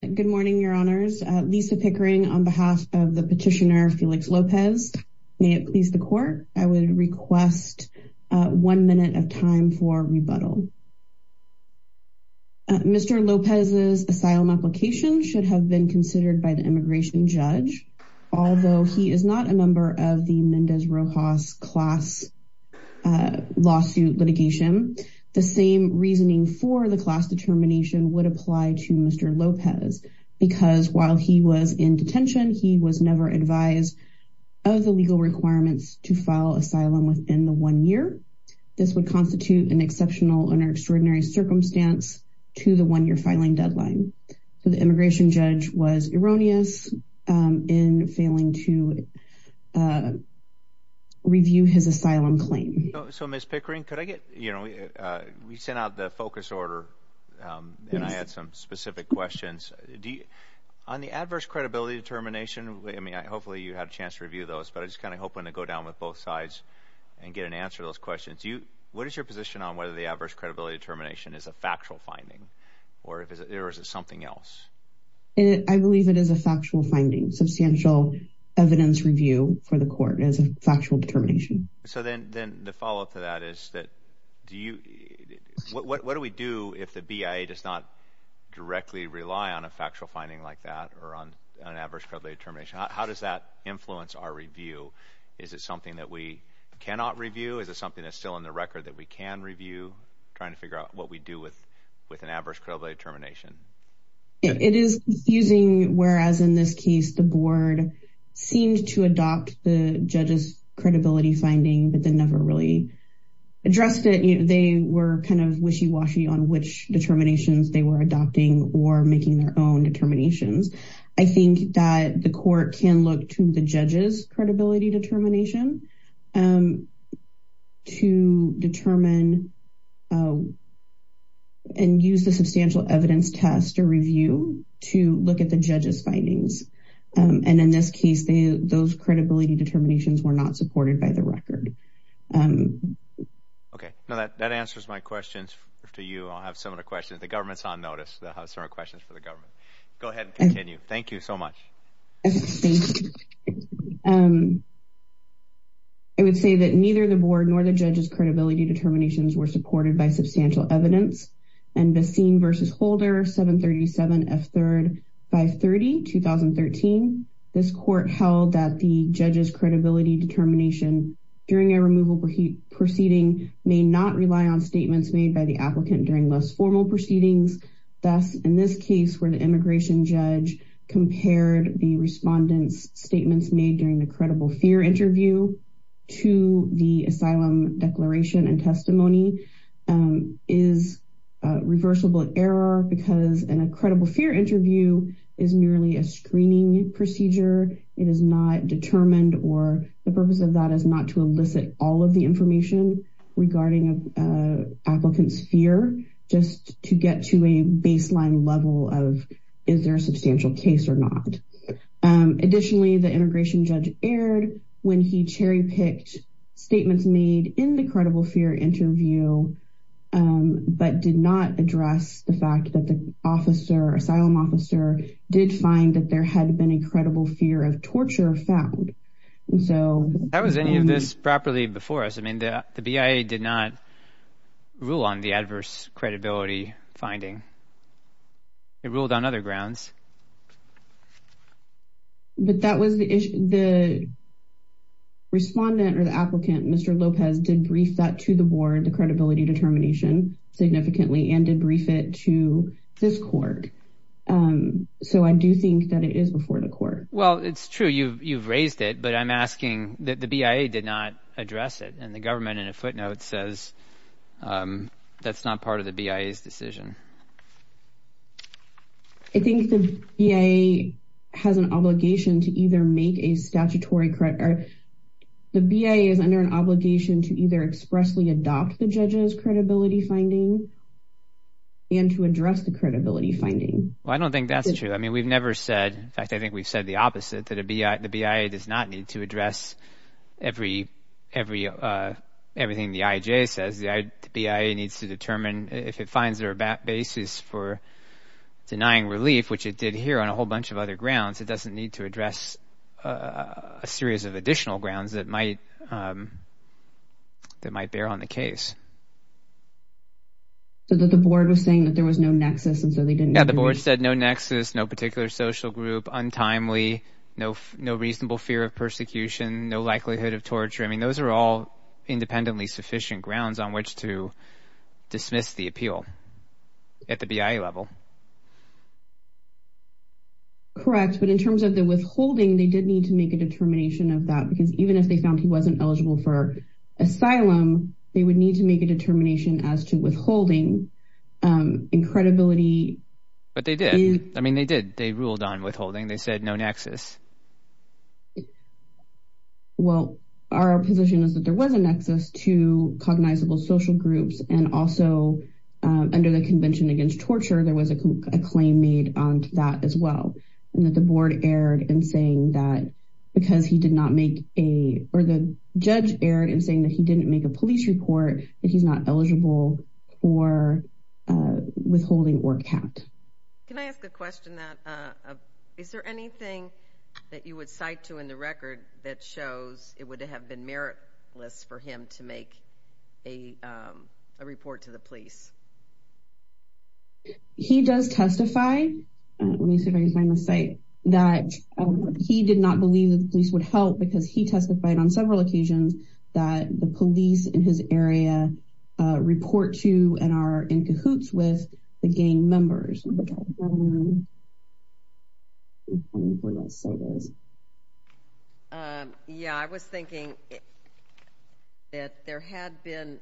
Good morning, your honors. Lisa Pickering on behalf of the petitioner Felix Lopez. May it please the court, I would request one minute of time for rebuttal. Mr. Lopez's asylum application should have been considered by the immigration judge. Although he is not a member of the Mendez Rojas class lawsuit litigation, the same reasoning for the class determination would apply to Mr. Lopez, because while he was in detention, he was never advised of the legal requirements to file asylum within the one year. This would constitute an exceptional and extraordinary circumstance to the one year filing deadline. The immigration judge was erroneous in failing to review his asylum claim. So Ms. Pickering, could I get, you know, we sent out the focus order, and I had some specific questions. On the adverse credibility determination, I mean, hopefully you had a chance to review those, but I just kind of hoping to go down with both sides, and get an answer to those questions. What is your position on whether the adverse credibility determination is a factual finding? Or is it something else? I believe it is a factual finding. Substantial evidence review for the court is a factual determination. So then the follow up to that is that, do you, what do we do if the BIA does not directly rely on a factual finding like that, or on an adverse credibility determination? How does that influence our review? Is it something that we cannot review? Is it something that's still in the record that we can review, trying to figure out what we do with an adverse credibility determination? It is confusing, whereas in this case, the board seemed to adopt the judge's credibility finding, but they never really addressed it. They were kind of wishy washy on which determinations they were adopting or making their own determinations. I think that the court can look to the judge's credibility determination to determine and use the substantial evidence test or review to look at the judge's findings. And in this case, those credibility determinations were not supported by the record. Okay, now that answers my questions to you. I'll have some of the questions. The government's on notice. They'll have some questions for the government. Go ahead and continue. Thank you so much. I would say that neither the board nor the judge's credibility determinations were supported by substantial evidence. And the board held that the judge's credibility determination during a removal proceeding may not rely on statements made by the applicant during less formal proceedings. Thus, in this case where the immigration judge compared the respondent's statements made during the credible fear interview to the asylum declaration and testimony is reversible error because in a case like this, it is not determined or the purpose of that is not to elicit all of the information regarding applicants fear just to get to a baseline level of is there a substantial case or not. Additionally, the immigration judge erred when he cherry picked statements made in the credible fear interview, but did not address the fact that the officer asylum officer did find that there had been a credible fear of torture found. So that was any of this properly before us. I mean, the BIA did not rule on the adverse credibility finding. It ruled on other grounds. But that was the the respondent or the applicant, Mr. Lopez did brief that to the board, the credibility determination significantly and debrief it to this court. So I do think that it is before the court. Well, it's true. You've you've raised it. But I'm asking that the BIA did not address it. And the government in a footnote says that's not part of the BIA's decision. I think the BIA has an obligation to either make a statutory credit or the BIA is under an obligation to either expressly adopt the judges credibility finding and to address the credibility finding. Well, I don't think that's true. I mean, we've never said in fact, I think we've said the opposite that the BIA does not need to address everything the IJ says. The BIA needs to determine if it finds their basis for denying relief, which it did here on a whole bunch of other grounds, it doesn't need to address a series of additional grounds that might that might bear on the case. So that the board was saying that there was no nexus and so they didn't have the board said no nexus, no particular social group untimely, no, no reasonable fear of persecution, no likelihood of torture. I mean, those are all independently sufficient grounds on which to dismiss the appeal at the BIA level. Correct, but in terms of the withholding, they did need to make a determination of that because even if they found he wasn't eligible for asylum, they would need to make a determination as to withholding. Incredibility. But they did. I mean, they did. They ruled on withholding. They said no nexus. Well, our position is that there was a nexus to cognizable social groups and also, under the Convention against torture, there was a claim made on that as well. And that the board erred in saying that because he did not make a or the judge erred in saying that he didn't make a police report that he's not eligible for withholding or count. Can I ask a question that is there anything that you would cite to in the record that shows it would have been meritless for him to make a report to the police? He does testify, let me see if I can find the site, that he did not believe the police would help because he testified on several occasions that the police in his area report to and are in cahoots with the gang members. Yeah, I was thinking that there had been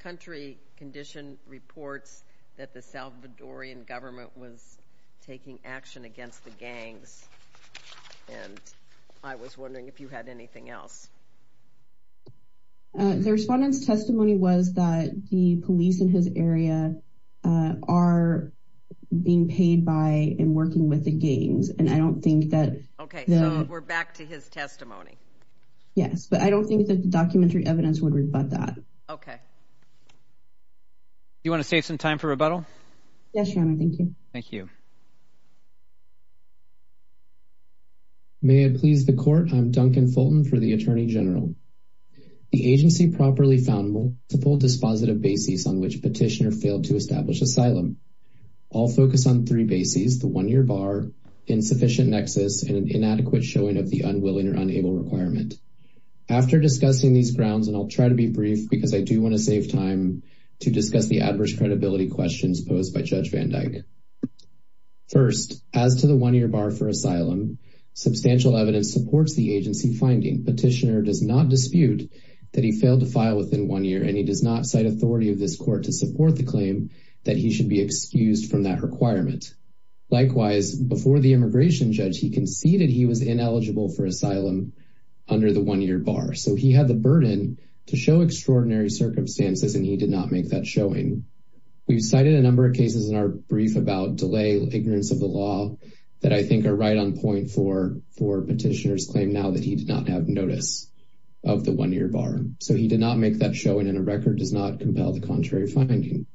country condition reports that the Salvadorian government was taking action against the gangs. And I was wondering if you had anything else. The respondent's testimony was that the police in his area are being paid by and working with the gangs. And I don't think that Okay, we're back to his testimony. Yes, but I don't think that the documentary evidence would rebut that. Okay. You want to save some time for rebuttal? Yes, thank you. Thank you. May it please the court. I'm Duncan Fulton for the Attorney General. The agency properly found multiple dispositive basis on which petitioner failed to establish asylum. All focus on three bases, the one year bar, insufficient nexus and inadequate showing of the unwilling or unable requirement. After discussing these grounds, and I'll try to be brief because I do want to save time to discuss the adverse credibility questions posed by Judge Van Dyke. First, as to the one year bar for asylum, substantial evidence supports the agency finding petitioner does not dispute that he failed to file within one year and he does not cite authority of this court to support the claim that he should be excused from that requirement. Likewise, before the immigration judge, he conceded he was ineligible for asylum under the one year bar. So he had the burden to show extraordinary circumstances and he did not make that showing. We've cited a number of cases in our brief about delay, ignorance of the law that I think are right on point for petitioners claim now that he did not have notice of the one year bar. So he did not make that showing and a record does not compel the contrary finding.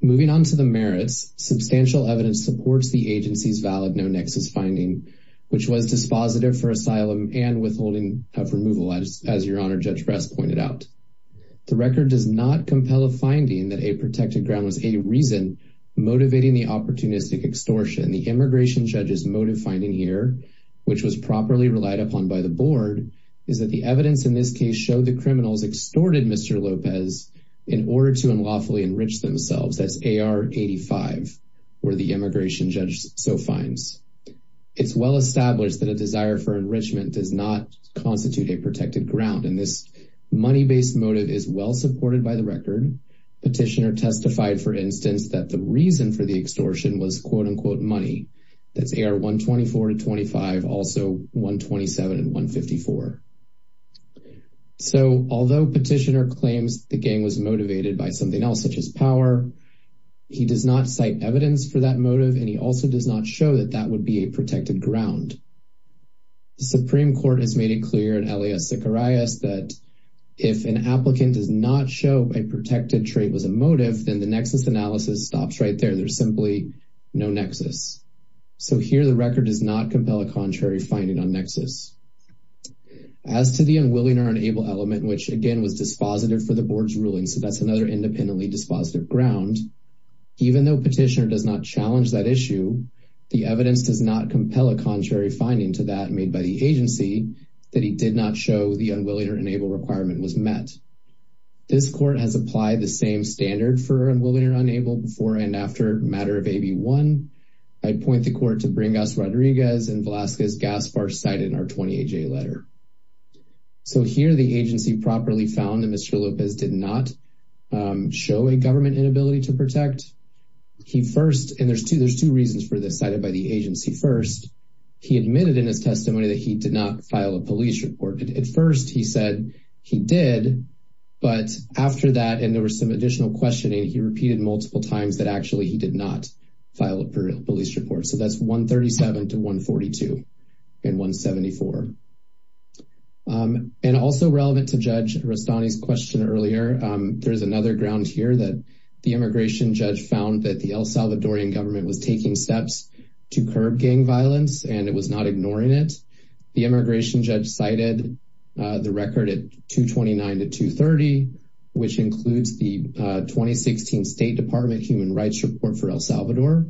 Moving on to the merits, substantial evidence supports the agency's valid no nexus finding, which was dispositive for asylum and withholding of removal as your honor, Judge Ress pointed out. The record does not compel a finding that a protected ground was a reason motivating the opportunistic extortion. The immigration judge's motive finding here, which was properly relied upon by the board, is that the evidence in this case showed the criminals extorted Mr. Lopez in order to unlawfully enrich themselves. That's AR 85, where the immigration judge so finds. It's well established that a desire for enrichment does not constitute a protected ground in this money based motive is well supported by the record. Petitioner testified, for instance, that the reason for the extortion was quote unquote money. That's AR 124 to 25, also 127 and 154. So although petitioner claims the gang was motivated by something else, such as power, he does not cite evidence for that motive, and he also does not show that that would be a motive. The Supreme Court has made it clear in Elia Sikorias that if an applicant does not show a protected trait was a motive, then the nexus analysis stops right there. There's simply no nexus. So here the record does not compel a contrary finding on nexus. As to the unwilling or unable element, which again was dispositive for the board's ruling, so that's another independently dispositive ground. Even though petitioner does not challenge that issue, the evidence does not compel a contrary finding to that made by the agency that he did not show the unwilling or unable requirement was met. This court has applied the same standard for unwilling or unable before and after matter of AB1. I'd point the court to Bringas Rodriguez and Velasquez Gaspar cited in our 20AJ letter. So here the agency properly found that Mr. Lopez did not show a government inability to protect. He first, and there's two reasons for this cited by the agency. First, he admitted in his testimony that he did not file a police report. At first he said he did, but after that and there was some additional questioning, he repeated multiple times that actually he did not file a police report. So that's 137 to 142 in 174. And also relevant to Judge Rastani's question earlier, there's another ground here that the immigration judge found that the El Salvadorian government was taking steps to curb gang violence and it was not ignoring it. The immigration judge cited the record at 229 to 230, which includes the 2016 State Department Human Rights Report for El Salvador,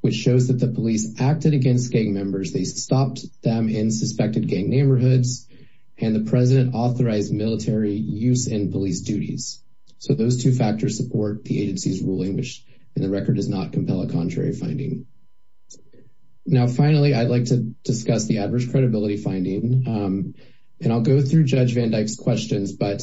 which shows that the police acted against gang members. They stopped them in suspected gang neighborhoods and the president authorized military use in those two factors support the agency's ruling, which in the record does not compel a contrary finding. Now, finally, I'd like to discuss the adverse credibility finding and I'll go through Judge Van Dyke's questions, but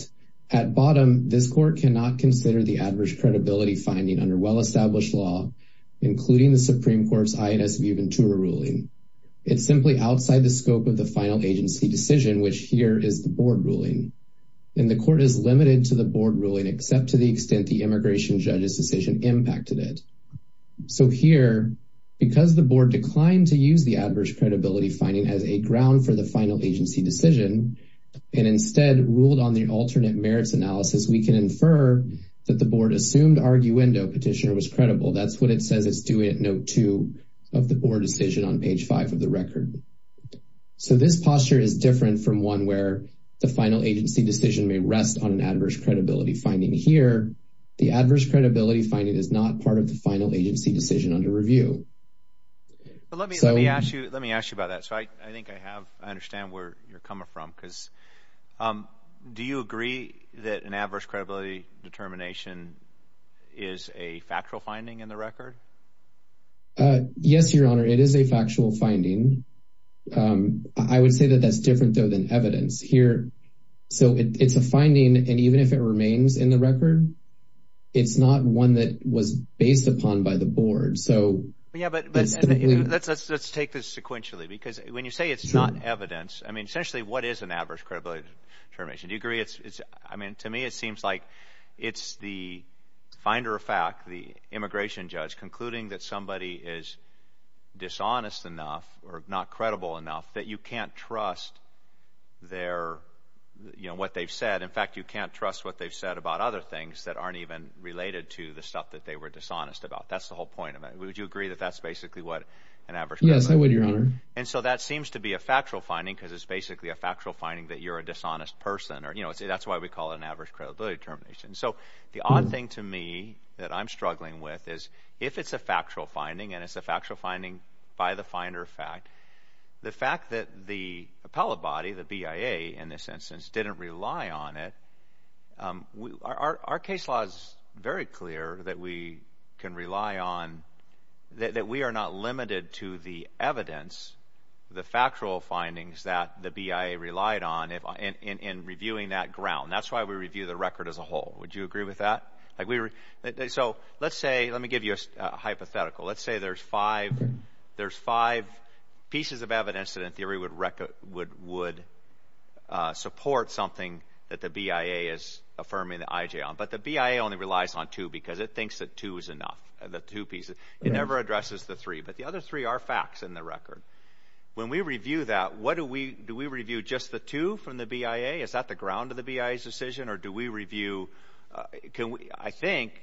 at bottom, this court cannot consider the adverse credibility finding under well-established law, including the Supreme Court's INS Viu Ventura ruling. It's simply outside the scope of the final agency decision, which here is the board ruling. And court is limited to the board ruling, except to the extent the immigration judge's decision impacted it. So here, because the board declined to use the adverse credibility finding as a ground for the final agency decision and instead ruled on the alternate merits analysis, we can infer that the board assumed arguendo petitioner was credible. That's what it says it's doing at note two of the board decision on page five of the record. So this posture is different from one where the adverse credibility finding here, the adverse credibility finding is not part of the final agency decision under review. Let me ask you about that. So I think I have, I understand where you're coming from, because do you agree that an adverse credibility determination is a factual finding in the record? Yes, Your Honor, it is a factual finding. I would say that that's different, though, than evidence here. So it's a finding. And even if it remains in the record, it's not one that was based upon by the board. So yeah, but let's take this sequentially, because when you say it's not evidence, I mean, essentially, what is an adverse credibility determination? Do you agree? It's I mean, to me, it seems like it's the finder of fact, the immigration judge concluding that somebody is dishonest enough or not their, you know, what they've said. In fact, you can't trust what they've said about other things that aren't even related to the stuff that they were dishonest about. That's the whole point of it. Would you agree that that's basically what an adverse? Yes, I would, Your Honor. And so that seems to be a factual finding, because it's basically a factual finding that you're a dishonest person, or, you know, that's why we call it an adverse credibility determination. So the odd thing to me that I'm struggling with is if it's a factual finding, and it's a factual finding by the finder of fact, the fact that the appellate body, the BIA, in this instance, didn't rely on it. Our case law is very clear that we can rely on that we are not limited to the evidence, the factual findings that the BIA relied on in reviewing that ground. That's why we review the record as a whole. Would you agree with that? So let's say, let me give you a hypothetical. Let's say there's five pieces of evidence that in theory would support something that the BIA is affirming the IJ on, but the BIA only relies on two, because it thinks that two is enough, the two pieces. It never addresses the three, but the other three are facts in the record. When we review that, what do we, do we review just the two from the BIA? Is that the ground of the BIA's decision, or do we review, I think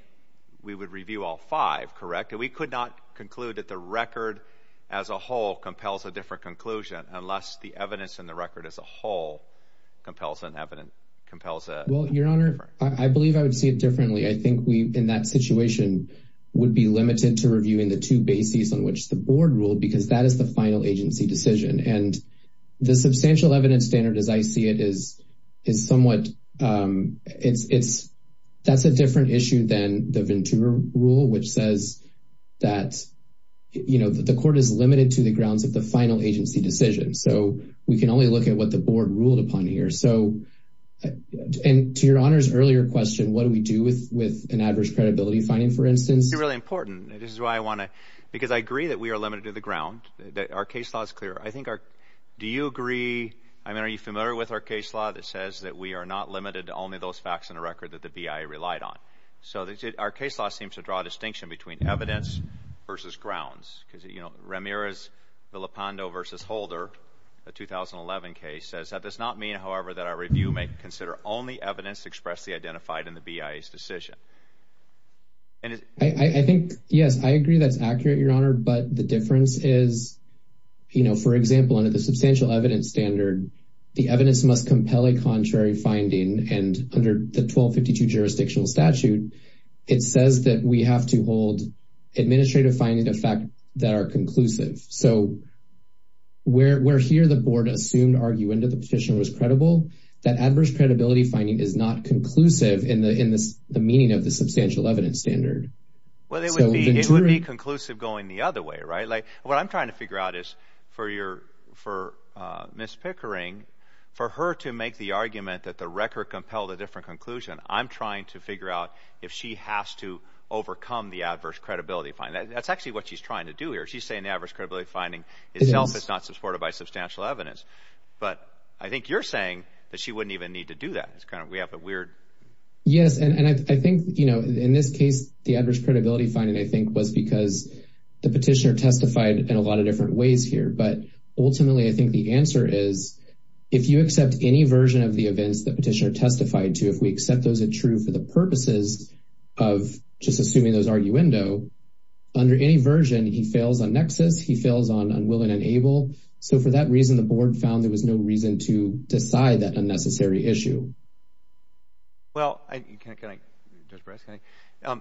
we would review all five, correct? And we could not conclude that the record as a whole compels a different conclusion unless the evidence in the record as a whole compels an evidence, compels a... Well, your honor, I believe I would see it differently. I think we, in that situation, would be limited to reviewing the two bases on which the board ruled, because that is the final agency decision. And the substantial evidence standard as I see it is somewhat, that's a different issue than the Ventura rule, which says that, you know, that the court is limited to the grounds of the final agency decision. So we can only look at what the board ruled upon here. So, and to your honor's earlier question, what do we do with an adverse credibility finding, for instance? It's really important. This is why I want to, because I agree that we are limited to the ground, that our case law is clear. I think our, do you agree, I mean, are you familiar with our case law that says that we are not limited to only those facts in the record that the BIA relied on? So our case law seems to draw a distinction between evidence versus grounds, because, you know, Ramirez, Villapando versus Holder, the 2011 case, says that does not mean, however, that our review may consider only evidence expressly identified in the BIA's decision. I think, yes, I agree that's accurate, your honor. But the difference is, you know, for example, under the substantial evidence standard, the evidence must compel a contrary finding. And under the 1252 jurisdictional statute, it says that we have to hold administrative findings of fact that are conclusive. So we're here, the board assumed argument of the petition was credible, that adverse credibility finding is not conclusive in the meaning of the substantial evidence standard. Well, it would be conclusive going the other way, right? Like, what I'm trying to figure out is for your, for Ms. Pickering, for her to make the argument that the record compelled a different conclusion, I'm trying to figure out if she has to overcome the adverse credibility finding. That's actually what she's trying to do here. She's saying the adverse credibility finding itself is not supported by substantial evidence. But I think you're saying that she wouldn't even need to do that. It's kind of, we have the weird. Yes, and I think, you know, in this case, the adverse credibility finding, I think, was because the petitioner testified in a lot of different ways here. But ultimately, I think the answer is, if you accept any version of the events that petitioner testified to, if we accept those that true for the purposes of just assuming those arguendo, under any version, he fails on nexus, he fails on unwilling and able. So for that reason, the board found there was no reason to decide that unnecessary issue. Well, can I, Judge Bryce, can I?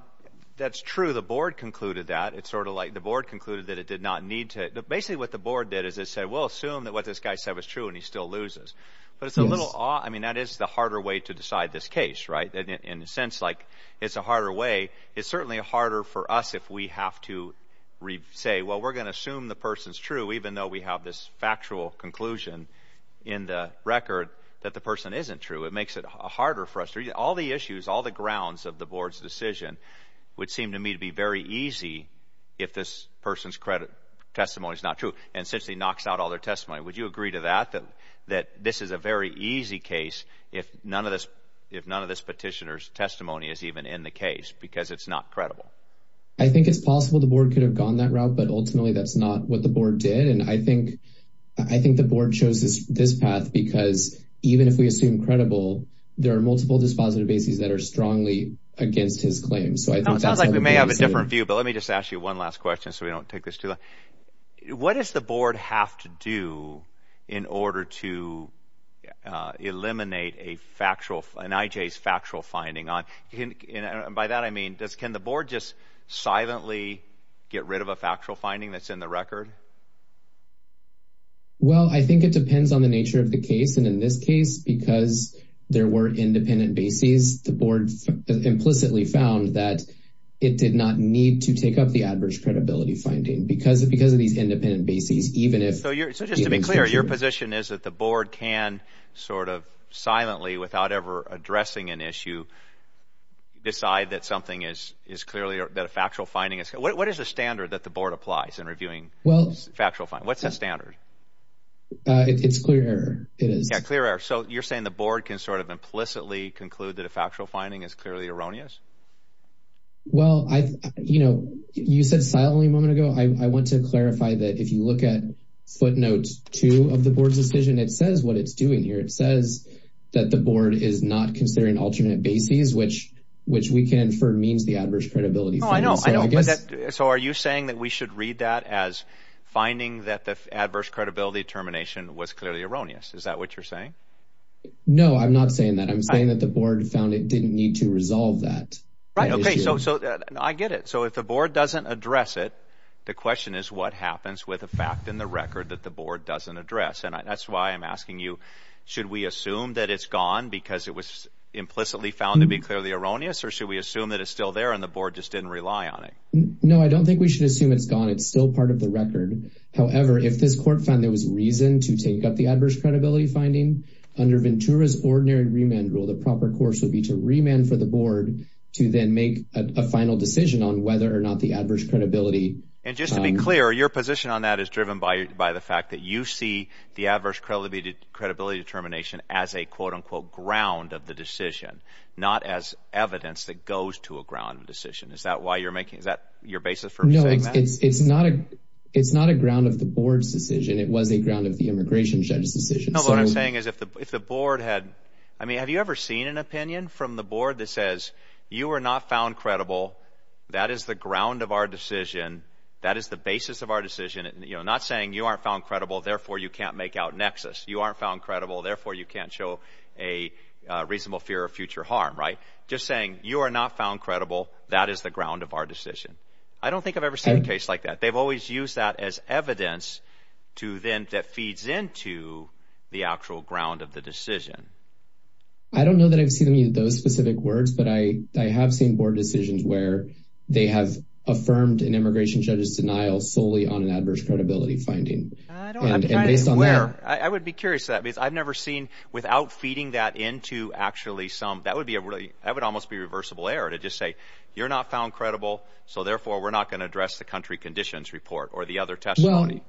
That's true. The board concluded that. It's sort of like the board concluded that it did not need to. Basically, what the board did is it said, we'll assume that what this guy said was true and he still loses. But it's a little odd. I mean, that is the harder way to decide this case, right? In a sense, like, it's a harder way. It's certainly harder for us if we have to say, well, we're going to assume the person's true, even though we have this factual conclusion in the record that the person isn't true. It makes it harder for us. All the issues, all the grounds of the board's decision would seem to me to be very easy if this person's credit testimony is not true and essentially knocks out all their testimony. Would you agree to that, that this is a very easy case if none of this petitioner's testimony is even in the case because it's not credible? I think it's possible the board could have gone that route, but ultimately that's not what the board did. And I think the board chose this path because even if we assume credible, there are multiple dispositive bases that are strongly against his claims. Sounds like we may have a different view, but let me just ask you one last question so we can eliminate an IJ's factual finding. By that I mean, can the board just silently get rid of a factual finding that's in the record? Well, I think it depends on the nature of the case. And in this case, because there were independent bases, the board implicitly found that it did not need to take up the average credibility finding because of these independent bases. So just to be clear, your position is that the board can sort of silently, without ever addressing an issue, decide that something is clearly a factual finding. What is the standard that the board applies in reviewing factual findings? What's the standard? It's clear error. So you're saying the board can sort of implicitly conclude that a factual finding is clearly erroneous? Well, you said silently a moment ago. I want to clarify that if you look at footnotes two of the board's decision, it says what it's doing here. It says that the board is not considering alternate bases, which we can infer means the adverse credibility. So are you saying that we should read that as finding that the adverse credibility termination was clearly erroneous? Is that what you're saying? No, I'm not saying that. I'm saying that the board found it didn't need to resolve that. Right. Okay. So I get it. So if the board doesn't address it, the question is what happens with a fact in the record that the board doesn't address? And that's why I'm asking you, should we assume that it's gone because it was implicitly found to be clearly erroneous? Or should we assume that it's still there and the board just didn't rely on it? No, I don't think we should assume it's gone. It's still part of the record. However, if this court found there was reason to take up the adverse credibility finding under Ventura's ordinary remand rule, the proper course would be to remand for the board to then make a final decision on whether or not the adverse credibility. And just to be clear, your position on that is driven by the fact that you see the adverse credibility determination as a quote unquote ground of the decision, not as evidence that goes to a ground decision. Is that why you're making is that your basis for saying that? No, it's not a ground of the board's decision. It was a ground of the immigration judge's decision. No, what I'm saying is if the board had, I mean, have you ever seen an opinion from the board that says you are not found credible? That is the ground of our decision. That is the basis of our decision. You know, not saying you aren't found credible. Therefore, you can't make out nexus. You aren't found credible. Therefore, you can't show a reasonable fear of future harm, right? Just saying you are not found credible. That is the ground of our decision. I don't think I've ever seen a case like that. They've always used that as evidence to then that feeds into the actual ground of the decision. I don't know that I've seen any of those specific words, but I I have seen board decisions where they have affirmed an immigration judge's denial solely on an adverse credibility finding and based on that, I would be curious to that because I've never seen without feeding that into actually some that would be a really that would almost be reversible error to just say you're not found credible. So therefore, we're not going to address the country conditions report or the other testimony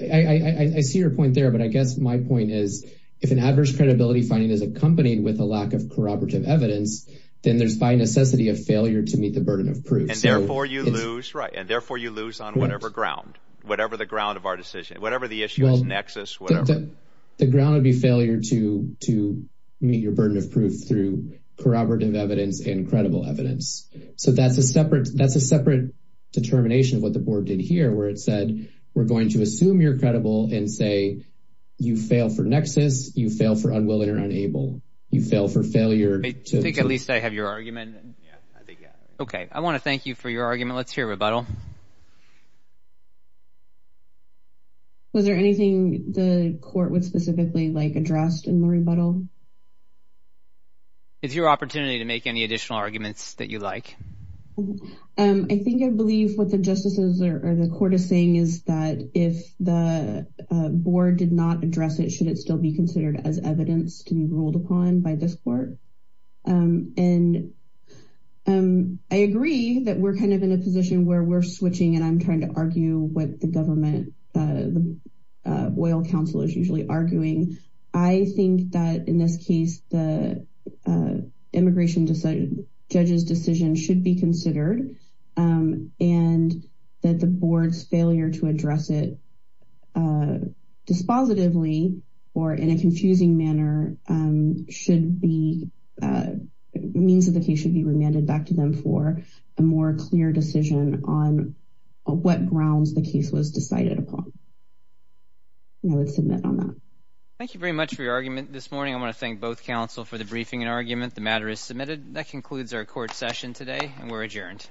IIII see your point there, but I guess my point is if an adverse credibility finding is accompanied with a lack of corroborative evidence, then there's by necessity of failure to meet the burden of proof and therefore you lose right and therefore you lose on whatever ground, whatever the ground of our decision, whatever the issue is nexus. The ground would be failure to to meet your burden of proof through corroborative evidence and credible evidence. So that's a separate. That's a separate determination of what the board did here where it You fail for nexus. You fail for unwilling or unable. You fail for failure. I think at least I have your argument and yeah, I think yeah. Okay. I want to thank you for your argument. Let's hear a rebuttal. Was there anything the court would specifically like addressed in the rebuttal? It's your opportunity to make any additional arguments that you like. I think I believe what the justices are or the court is saying is that if the board did not address it, should it still be considered as evidence to be ruled upon by this court and I agree that we're kind of in a position where we're switching and I'm trying to argue with the government. The oil Council is usually arguing. I think that in this case, the immigration decided judges decision should be considered and that the board's failure to address it dispositively or in a confusing manner should be means that the case should be remanded back to them for a more clear decision on what grounds the case was decided upon. I would submit on that. Thank you very much for your argument this morning. I want to thank both Council for the briefing and argument. The matter is submitted that concludes our court session today and we're adjourned.